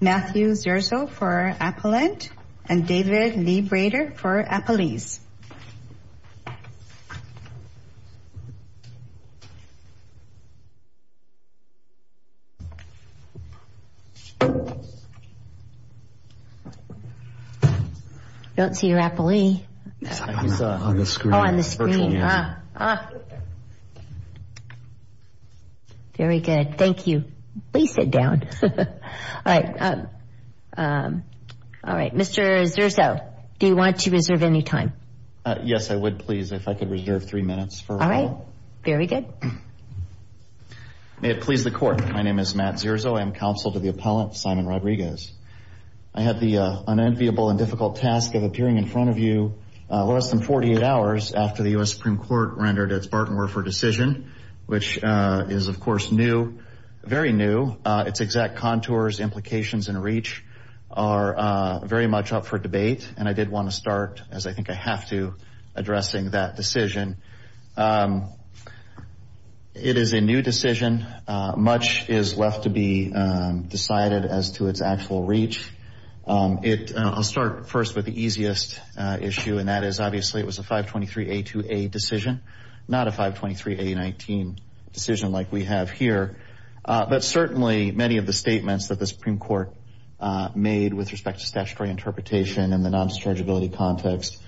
Matthew Zerzo for Appellant and David Lee Brader for Appellees. I don't see your appellee. He's on the screen. Very good. Thank you. Please sit down. Mr. Zerzo, do you want to reserve any time? Yes, I would, please, if I could reserve three minutes. All right. Very good. May it please the Court. My name is Matt Zerzo. I am Counsel to the Appellant, Simon Rodriguez. I have the unenviable and difficult task of appearing in front of you less than 48 hours after the U.S. Supreme Court rendered its Bartenwerfer decision, which is, of course, new, very new. Its exact contours, implications, and reach are very much up for debate, and I did want to start, as I think I have to, addressing that decision. It is a new decision. Much is left to be decided as to its actual reach. I'll start first with the easiest issue, and that is, obviously, it was a 523A2A decision, not a 523A19 decision like we have here. But certainly many of the statements that the Supreme Court made with respect to statutory interpretation and the non-dischargeability context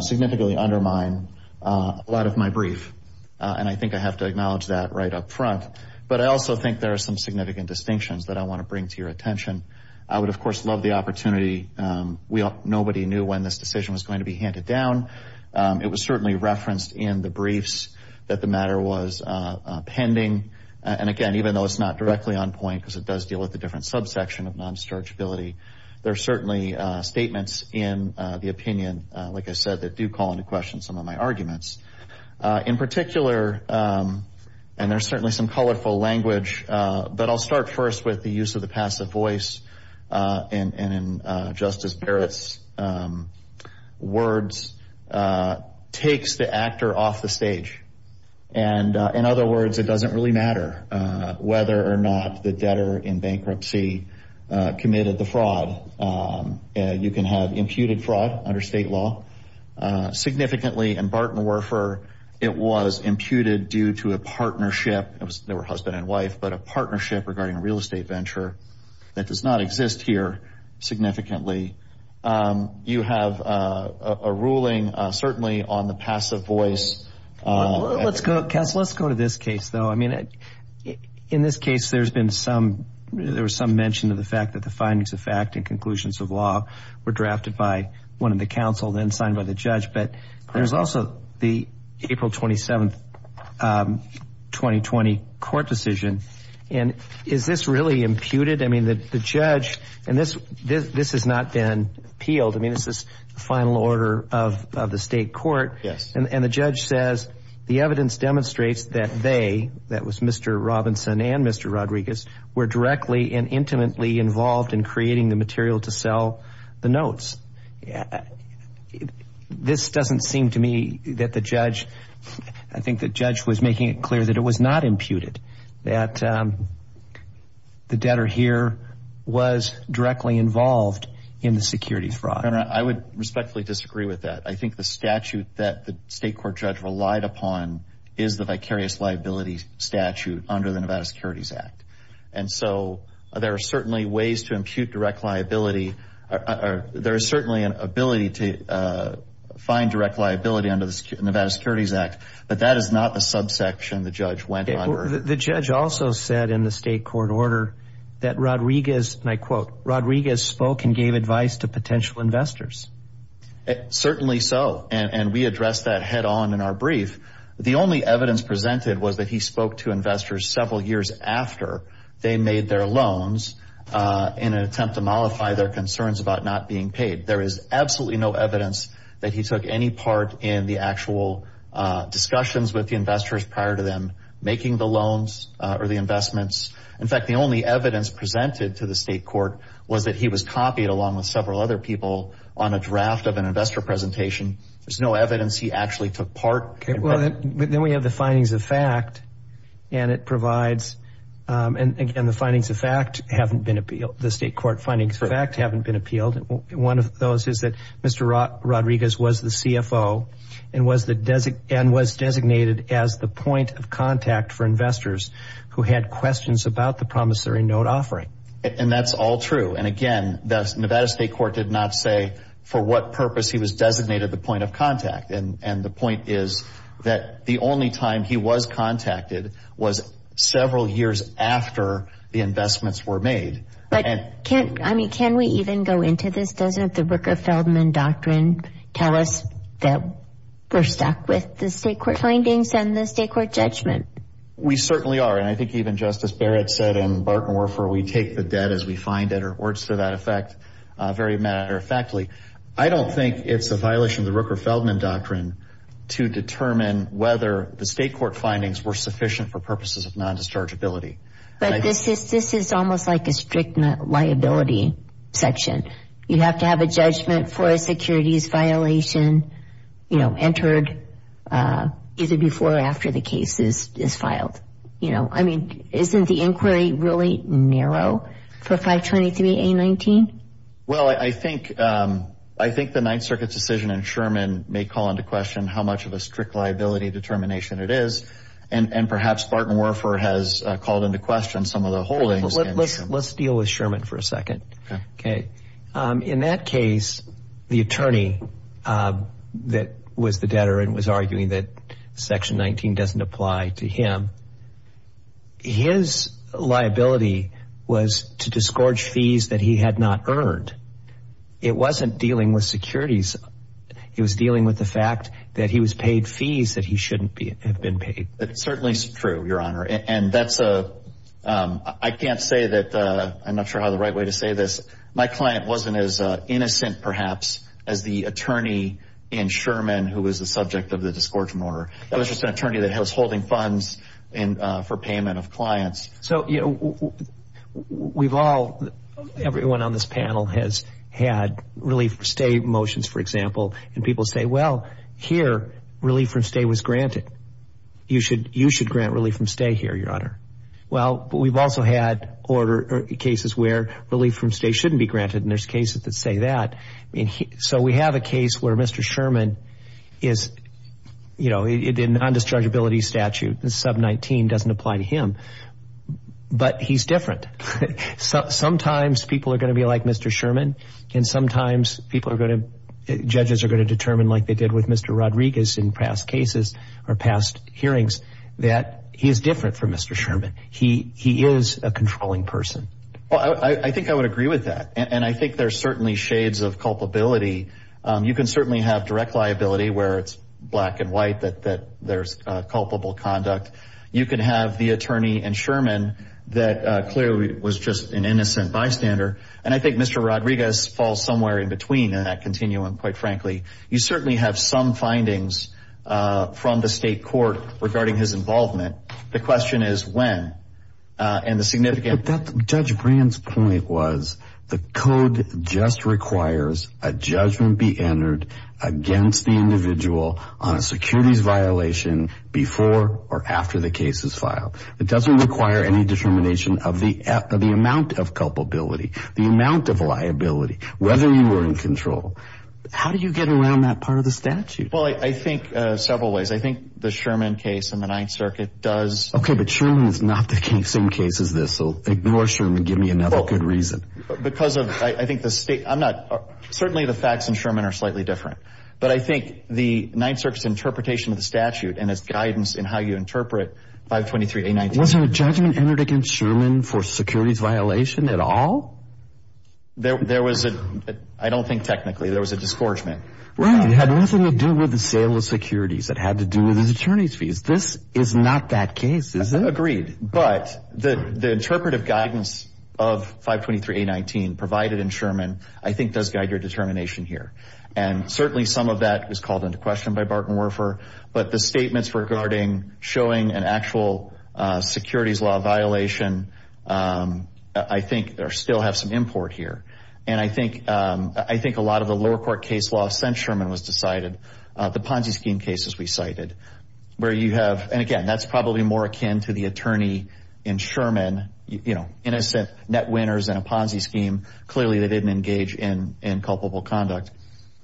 significantly undermine a lot of my brief, and I think I have to acknowledge that right up front. But I also think there are some significant distinctions that I want to bring to your attention. I would, of course, love the opportunity. Nobody knew when this decision was going to be handed down. It was certainly referenced in the briefs that the matter was pending. And, again, even though it's not directly on point because it does deal with a different subsection of non-dischargeability, there are certainly statements in the opinion, like I said, that do call into question some of my arguments. In particular, and there's certainly some colorful language, but I'll start first with the use of the passive voice. And in Justice Barrett's words, takes the actor off the stage. And, in other words, it doesn't really matter whether or not the debtor in bankruptcy committed the fraud. You can have imputed fraud under state law. Significantly, in Barton-Werfer, it was imputed due to a partnership. They were husband and wife, but a partnership regarding a real estate venture. That does not exist here significantly. You have a ruling, certainly, on the passive voice. Let's go to this case, though. I mean, in this case, there's been some mention of the fact that the findings of fact and conclusions of law were drafted by one of the counsel, then signed by the judge. But there's also the April 27, 2020, court decision. And is this really imputed? I mean, the judge, and this has not been appealed. I mean, this is the final order of the state court. Yes. And the judge says the evidence demonstrates that they, that was Mr. Robinson and Mr. Rodriguez, were directly and intimately involved in creating the material to sell the notes. This doesn't seem to me that the judge, I think the judge was making it clear that it was not imputed, that the debtor here was directly involved in the securities fraud. I would respectfully disagree with that. I think the statute that the state court judge relied upon is the vicarious liability statute under the Nevada Securities Act. And so there are certainly ways to impute direct liability. There is certainly an ability to find direct liability under the Nevada Securities Act. But that is not the subsection the judge went under. The judge also said in the state court order that Rodriguez, and I quote, Rodriguez spoke and gave advice to potential investors. Certainly so. And we addressed that head on in our brief. The only evidence presented was that he spoke to investors several years after they made their loans in an attempt to mollify their concerns about not being paid. There is absolutely no evidence that he took any part in the actual discussions with the investors prior to them making the loans or the investments. In fact, the only evidence presented to the state court was that he was copied along with several other people on a draft of an investor presentation. There is no evidence he actually took part. Okay. Well, then we have the findings of fact. And it provides, and again, the findings of fact haven't been appealed. The state court findings of fact haven't been appealed. One of those is that Mr. Rodriguez was the CFO and was designated as the point of contact for investors who had questions about the promissory note offering. And that's all true. And, again, the Nevada state court did not say for what purpose he was designated the point of contact. And the point is that the only time he was contacted was several years after the investments were made. But, I mean, can we even go into this? Doesn't the Rooker-Feldman doctrine tell us that we're stuck with the state court findings and the state court judgment? We certainly are. And I think even Justice Barrett said in Bartenwerfer, we take the debt as we find it, or words to that effect, very matter-of-factly. I don't think it's a violation of the Rooker-Feldman doctrine to determine whether the state court findings were sufficient for purposes of non-dischargeability. But this is almost like a strict liability section. You have to have a judgment for a securities violation entered either before or after the case is filed. I mean, isn't the inquiry really narrow for 523A19? Well, I think the Ninth Circuit's decision in Sherman may call into question how much of a strict liability determination it is. And perhaps Bartenwerfer has called into question some of the holdings. Let's deal with Sherman for a second. In that case, the attorney that was the debtor and was arguing that Section 19 doesn't apply to him, his liability was to disgorge fees that he had not earned. It wasn't dealing with securities. It was dealing with the fact that he was paid fees that he shouldn't have been paid. That certainly is true, Your Honor. And that's a – I can't say that – I'm not sure I have the right way to say this. My client wasn't as innocent, perhaps, as the attorney in Sherman who was the subject of the disgorgement order. That was just an attorney that was holding funds for payment of clients. So, you know, we've all – everyone on this panel has had relief-from-stay motions, for example, and people say, well, here relief-from-stay was granted. You should grant relief-from-stay here, Your Honor. Well, but we've also had cases where relief-from-stay shouldn't be granted, and there's cases that say that. So we have a case where Mr. Sherman is – you know, in non-dischargeability statute, Sub 19 doesn't apply to him, but he's different. Sometimes people are going to be like Mr. Sherman, and sometimes people are going to – judges are going to determine like they did with Mr. Rodriguez in past cases or past hearings that he is different from Mr. Sherman. He is a controlling person. Well, I think I would agree with that, and I think there's certainly shades of culpability. You can certainly have direct liability where it's black and white that there's culpable conduct. You can have the attorney in Sherman that clearly was just an innocent bystander, and I think Mr. Rodriguez falls somewhere in between in that continuum, quite frankly. You certainly have some findings from the state court regarding his involvement. The question is when, and the significance – But Judge Brand's point was the code just requires a judgment be entered against the individual on a securities violation before or after the case is filed. It doesn't require any determination of the amount of culpability, the amount of liability, whether you were in control. How do you get around that part of the statute? Well, I think several ways. I think the Sherman case and the Ninth Circuit does – Okay, but Sherman is not the same case as this, so ignore Sherman. Give me another good reason. Because of – I think the state – I'm not – certainly the facts in Sherman are slightly different, but I think the Ninth Circuit's interpretation of the statute and its guidance in how you interpret 523A19 – Wasn't a judgment entered against Sherman for securities violation at all? There was a – I don't think technically. There was a disgorgement. Right. It had nothing to do with the sale of securities. It had to do with his attorney's fees. This is not that case, is it? Agreed. But the interpretive guidance of 523A19 provided in Sherman I think does guide your determination here. And certainly some of that was called into question by Barton Werfer, but the statements regarding showing an actual securities law violation I think still have some import here. And I think a lot of the lower court case law since Sherman was decided, the Ponzi scheme cases we cited where you have – and, again, that's probably more akin to the attorney in Sherman, you know, innocent net winners in a Ponzi scheme. Clearly they didn't engage in culpable conduct.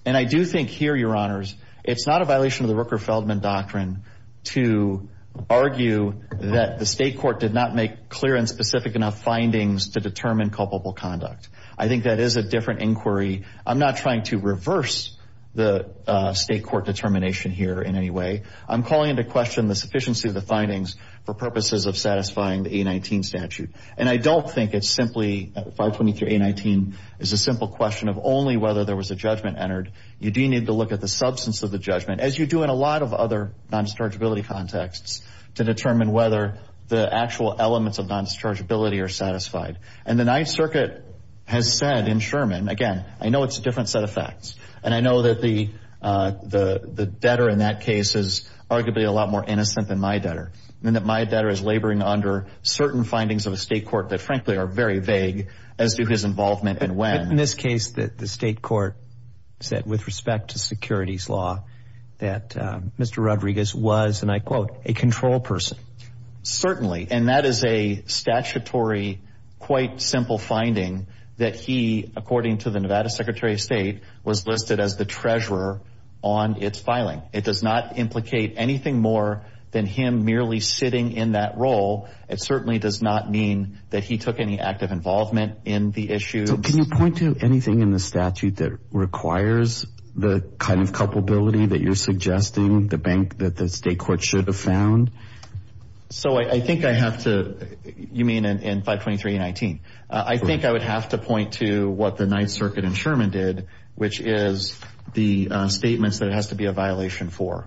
And I do think here, Your Honors, it's not a violation of the Rooker-Feldman doctrine to argue that the state court did not make clear and specific enough findings to determine culpable conduct. I think that is a different inquiry. I'm not trying to reverse the state court determination here in any way. I'm calling into question the sufficiency of the findings for purposes of satisfying the A19 statute. And I don't think it's simply – 523A19 is a simple question of only whether there was a judgment entered. You do need to look at the substance of the judgment, as you do in a lot of other non-dischargeability contexts, to determine whether the actual elements of non-dischargeability are satisfied. And the Ninth Circuit has said in Sherman – again, I know it's a different set of facts, and I know that the debtor in that case is arguably a lot more innocent than my debtor, and that my debtor is laboring under certain findings of a state court that, frankly, are very vague as to his involvement and when. But in this case, the state court said, with respect to securities law, that Mr. Rodriguez was, and I quote, a control person. Certainly, and that is a statutory, quite simple finding that he, according to the Nevada Secretary of State, was listed as the treasurer on its filing. It does not implicate anything more than him merely sitting in that role. It certainly does not mean that he took any active involvement in the issue. So can you point to anything in the statute that requires the kind of culpability that you're suggesting, the bank that the state court should have found? So I think I have to – you mean in 523A-19? I think I would have to point to what the Ninth Circuit in Sherman did, which is the statements that it has to be a violation for.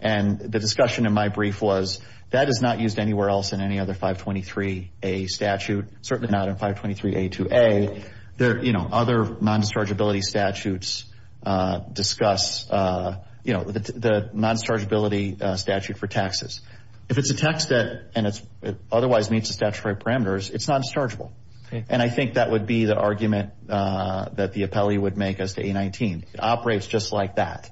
And the discussion in my brief was that is not used anywhere else in any other 523A statute, certainly not in 523A-2A. Other non-dischargeability statutes discuss the non-dischargeability statute for taxes. If it's a tax debt and it otherwise meets the statutory parameters, it's non-dischargeable. And I think that would be the argument that the appellee would make as to A-19. It operates just like that.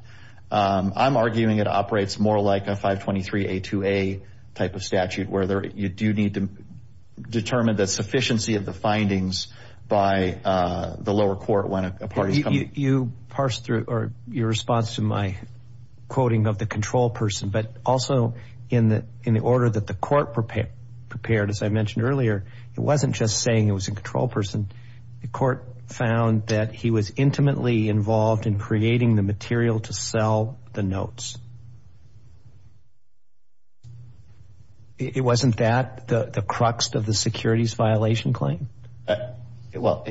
I'm arguing it operates more like a 523A-2A type of statute, where you do need to determine the sufficiency of the findings by the lower court when a party is coming. You parsed through – or your response to my quoting of the control person, but also in the order that the court prepared, as I mentioned earlier, it wasn't just saying it was a control person. The court found that he was intimately involved in creating the material to sell the notes. It wasn't that the crux of the securities violation claim? Well,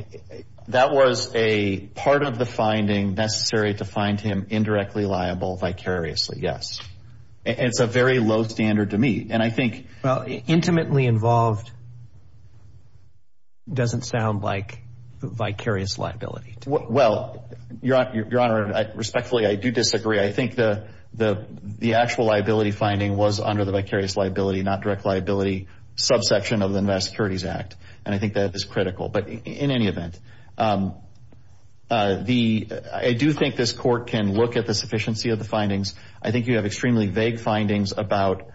that was a part of the finding necessary to find him indirectly liable vicariously, yes. It's a very low standard to meet. And I think – Well, intimately involved doesn't sound like vicarious liability to me. Well, Your Honor, respectfully, I do disagree. I think the actual liability finding was under the vicarious liability, not direct liability subsection of the Nevada Securities Act, and I think that is critical. But in any event, I do think this court can look at the sufficiency of the findings. I think you have extremely vague findings about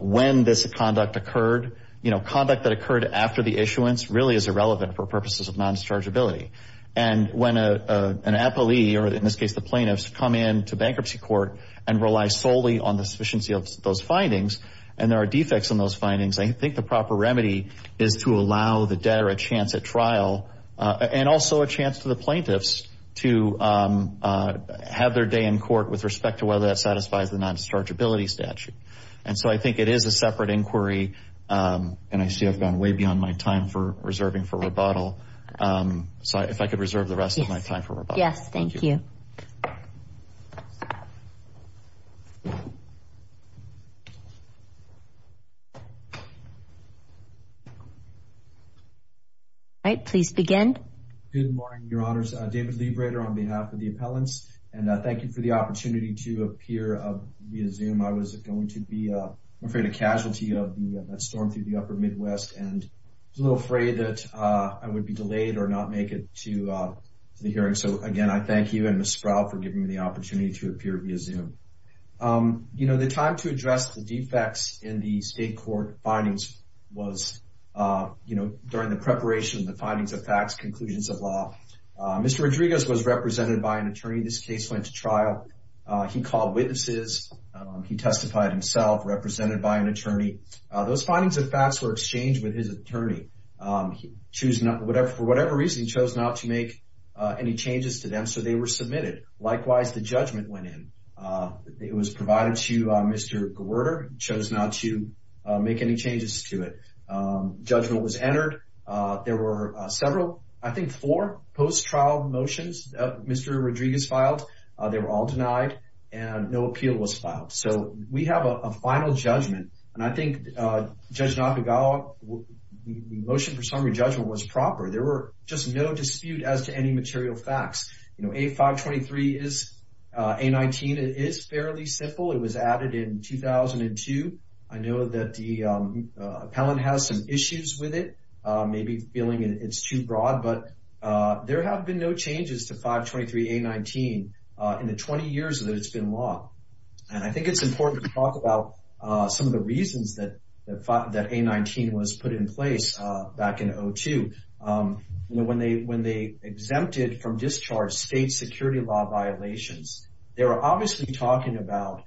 when this conduct occurred. Conduct that occurred after the issuance really is irrelevant for purposes of non-dischargeability. And when an appellee, or in this case the plaintiffs, come in to bankruptcy court and rely solely on the sufficiency of those findings and there are defects in those findings, I think the proper remedy is to allow the debtor a chance at trial and also a chance for the plaintiffs to have their day in court with respect to whether that satisfies the non-dischargeability statute. And so I think it is a separate inquiry, and I see I've gone way beyond my time for reserving for rebuttal, so if I could reserve the rest of my time for rebuttal. Yes, thank you. All right, please begin. Good morning, Your Honors. David Liebreder on behalf of the appellants, and thank you for the opportunity to appear via Zoom. I was going to be, I'm afraid, a casualty of the storm through the upper Midwest, and I was a little afraid that I would be delayed or not make it to the hearing. So, again, I thank you and Ms. Sproul for giving me the opportunity to appear via Zoom. You know, the time to address the defects in the state court findings was, you know, during the preparation of the findings of facts, conclusions of law. Mr. Rodriguez was represented by an attorney. This case went to trial. He called witnesses. He testified himself, represented by an attorney. Those findings of facts were exchanged with his attorney. For whatever reason, he chose not to make any changes to them, so they were submitted. Likewise, the judgment went in. It was provided to Mr. Gewurter. He chose not to make any changes to it. Judgment was entered. There were several, I think four, post-trial motions Mr. Rodriguez filed. They were all denied, and no appeal was filed. So, we have a final judgment, and I think Judge Nakagawa, the motion for summary judgment was proper. There were just no dispute as to any material facts. You know, A523 is A19. It is fairly simple. It was added in 2002. I know that the appellant has some issues with it, maybe feeling it's too broad, but there have been no changes to 523A19 in the 20 years that it's been law. And I think it's important to talk about some of the reasons that A19 was put in place back in 2002. You know, when they exempted from discharge state security law violations, they were obviously talking about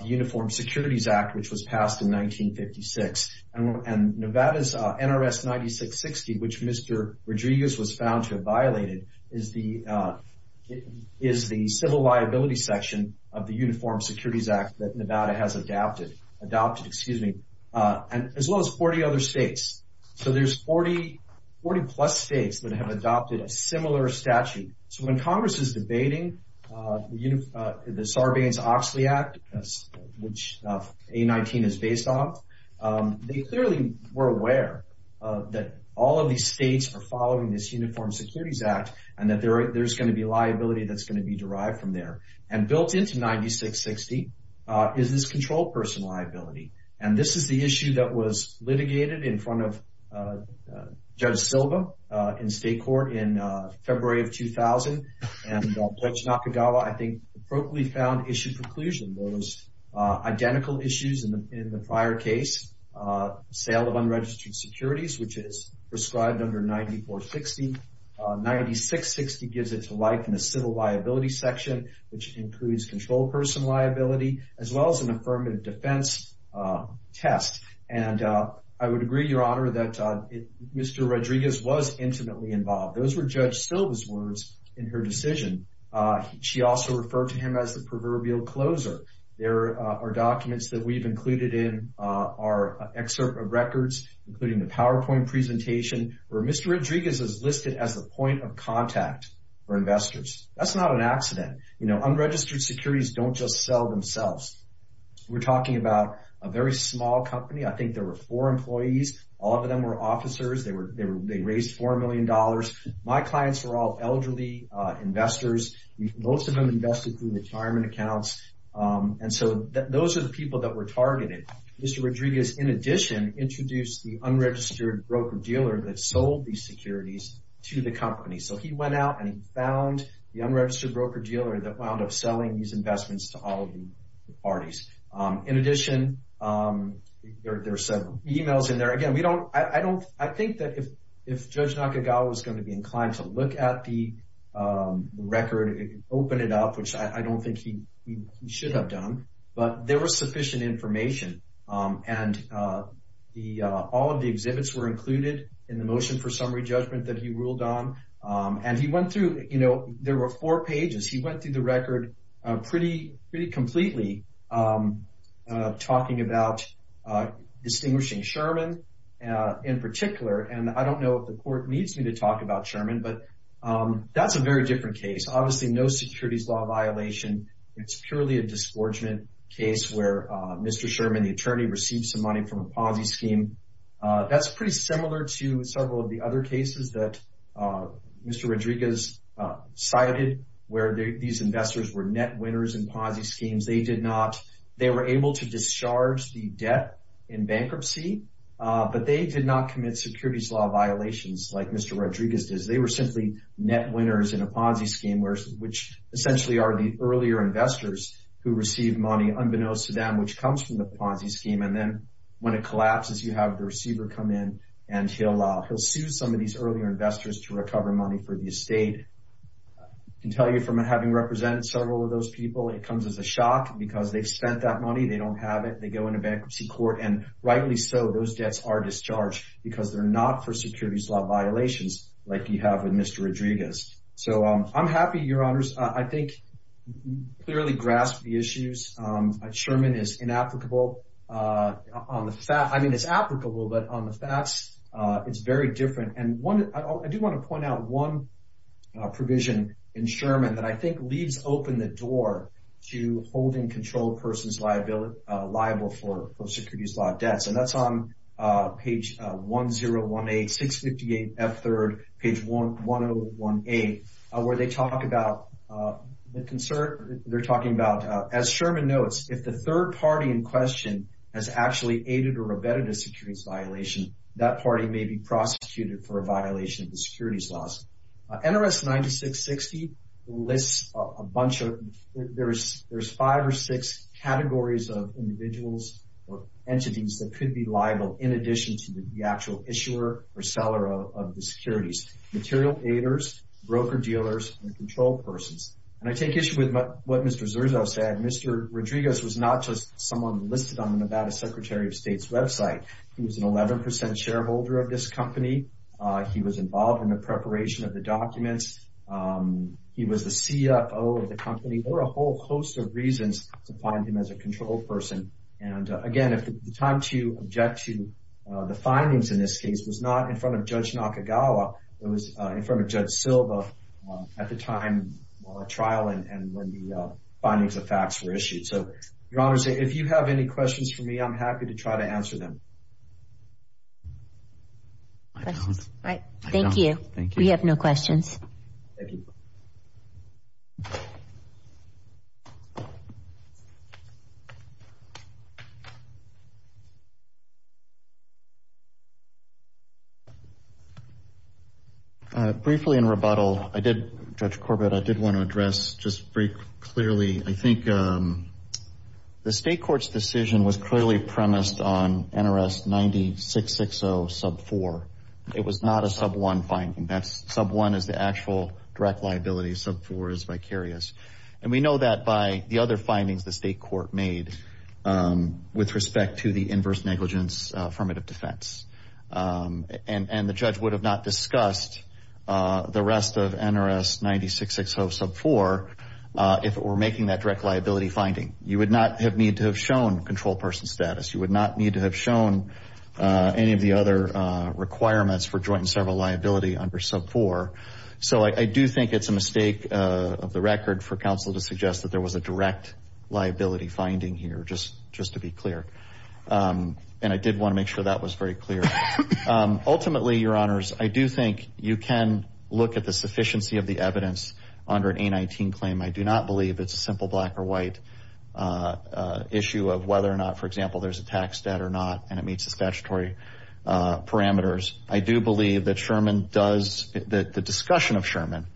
the Uniform Securities Act, which was passed in 1956, and Nevada's NRS 9660, which Mr. Rodriguez was found to have violated, is the civil liability section of the Uniform Securities Act that Nevada has adopted, as well as 40 other states. So, there's 40-plus states that have adopted a similar statute. So, when Congress is debating the Sarbanes-Oxley Act, which A19 is based on, they clearly were aware that all of these states are following this Uniform Securities Act, and that there's going to be liability that's going to be derived from there. And built into 9660 is this controlled person liability. And this is the issue that was litigated in front of Judge Silva in state court in February of 2000. And Judge Nakagawa, I think, appropriately found issue preclusion. There was identical issues in the prior case. Sale of unregistered securities, which is prescribed under 9460. 9660 gives it to life in the civil liability section, which includes controlled person liability, as well as an affirmative defense test. And I would agree, Your Honor, that Mr. Rodriguez was intimately involved. Those were Judge Silva's words in her decision. She also referred to him as the proverbial closer. There are documents that we've included in our excerpt of records, including the PowerPoint presentation, where Mr. Rodriguez is listed as the point of contact for investors. That's not an accident. Unregistered securities don't just sell themselves. We're talking about a very small company. I think there were four employees. All of them were officers. They raised $4 million. My clients were all elderly investors. Most of them invested through retirement accounts. And so those are the people that were targeted. Mr. Rodriguez, in addition, introduced the unregistered broker-dealer that sold these securities to the company. So he went out and he found the unregistered broker-dealer that wound up selling these investments to all of the parties. In addition, there are several e-mails in there. Again, I think that if Judge Nakagawa was going to be inclined to look at the record, open it up, which I don't think he should have done, but there was sufficient information. And all of the exhibits were included in the motion for summary judgment that he ruled on. And he went through, you know, there were four pages. He went through the record pretty completely talking about distinguishing Sherman in particular. And I don't know if the court needs me to talk about Sherman, but that's a very different case. Obviously, no securities law violation. It's purely a disgorgement case where Mr. Sherman, the attorney, received some money from a Ponzi scheme. That's pretty similar to several of the other cases that Mr. Rodriguez cited where these investors were net winners in Ponzi schemes. They were able to discharge the debt in bankruptcy, but they did not commit securities law violations like Mr. Rodriguez did. They were simply net winners in a Ponzi scheme, which essentially are the earlier investors who received money unbeknownst to them, which comes from the Ponzi scheme. And then when it collapses, you have the receiver come in, and he'll sue some of these earlier investors to recover money for the estate. I can tell you from having represented several of those people, it comes as a shock because they've spent that money. They don't have it. They go into bankruptcy court. And rightly so, those debts are discharged because they're not for securities law violations like you have with Mr. Rodriguez. So I'm happy, Your Honors. I think you clearly grasped the issues. Sherman is inapplicable. I mean, it's applicable, but on the facts, it's very different. And I do want to point out one provision in Sherman that I think leaves open the door to holding controlled persons liable for securities law debts, and that's on page 1018, 658F3rd, page 1018, where they talk about the concern. They're talking about, as Sherman notes, if the third party in question has actually aided or abetted a securities violation, that party may be prosecuted for a violation of the securities laws. NRS 9660 lists a bunch of – there's five or six categories of individuals or entities that could be liable, in addition to the actual issuer or seller of the securities. Material aiders, broker-dealers, and controlled persons. And I take issue with what Mr. Zerzow said. Mr. Rodriguez was not just someone listed on the Nevada Secretary of State's website. He was an 11% shareholder of this company. He was involved in the preparation of the documents. He was the CFO of the company. There were a whole host of reasons to find him as a controlled person. And, again, the time to object to the findings in this case was not in front of Judge Nakagawa. It was in front of Judge Silva at the time of the trial and when the findings of facts were issued. So, Your Honors, if you have any questions for me, I'm happy to try to answer them. I don't. I don't. Thank you. Thank you. We have no questions. Thank you. Briefly, in rebuttal, Judge Corbett, I did want to address just very clearly, I think the State Court's decision was clearly premised on NRS 9660 sub 4. It was not a sub 1 finding. Sub 1 is the actual direct liability. Sub 4 is vicarious. And we know that by the other findings the State Court made with respect to the inverse negligence affirmative defense. And the judge would have not discussed the rest of NRS 9660 sub 4 if it were making that direct liability finding. You would not need to have shown controlled person status. You would not need to have shown any of the other requirements for joint and several liability under sub 4. So I do think it's a mistake of the record for counsel to suggest that there was a direct liability finding here, just to be clear. And I did want to make sure that was very clear. Ultimately, Your Honors, I do think you can look at the sufficiency of the evidence under an A19 claim. I do not believe it's a simple black or white issue of whether or not, for example, there's a tax debt or not and it meets the statutory parameters. I do believe that Sherman does, that the discussion of Sherman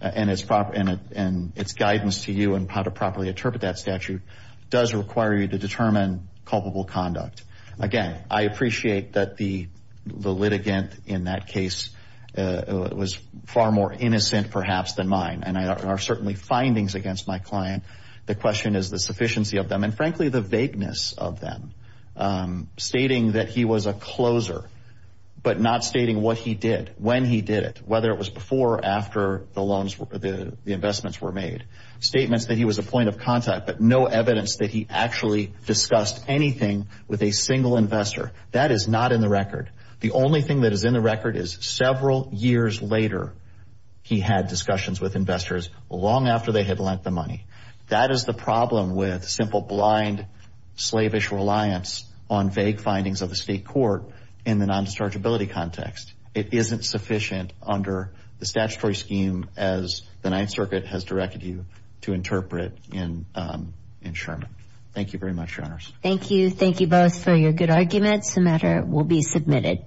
and its guidance to you on how to properly interpret that statute does require you to determine culpable conduct. Again, I appreciate that the litigant in that case was far more innocent, perhaps, than mine. And there are certainly findings against my client. The question is the sufficiency of them and, frankly, the vagueness of them. Stating that he was a closer, but not stating what he did, when he did it, whether it was before or after the investments were made. Statements that he was a point of contact, but no evidence that he actually discussed anything with a single investor. That is not in the record. The only thing that is in the record is several years later, he had discussions with investors long after they had lent the money. That is the problem with simple, blind, slavish reliance on vague findings of the state court in the non-dischargeability context. It isn't sufficient under the statutory scheme as the Ninth Circuit has directed you to interpret in Sherman. Thank you very much, Your Honors. Thank you. Thank you both for your good arguments. The matter will be submitted.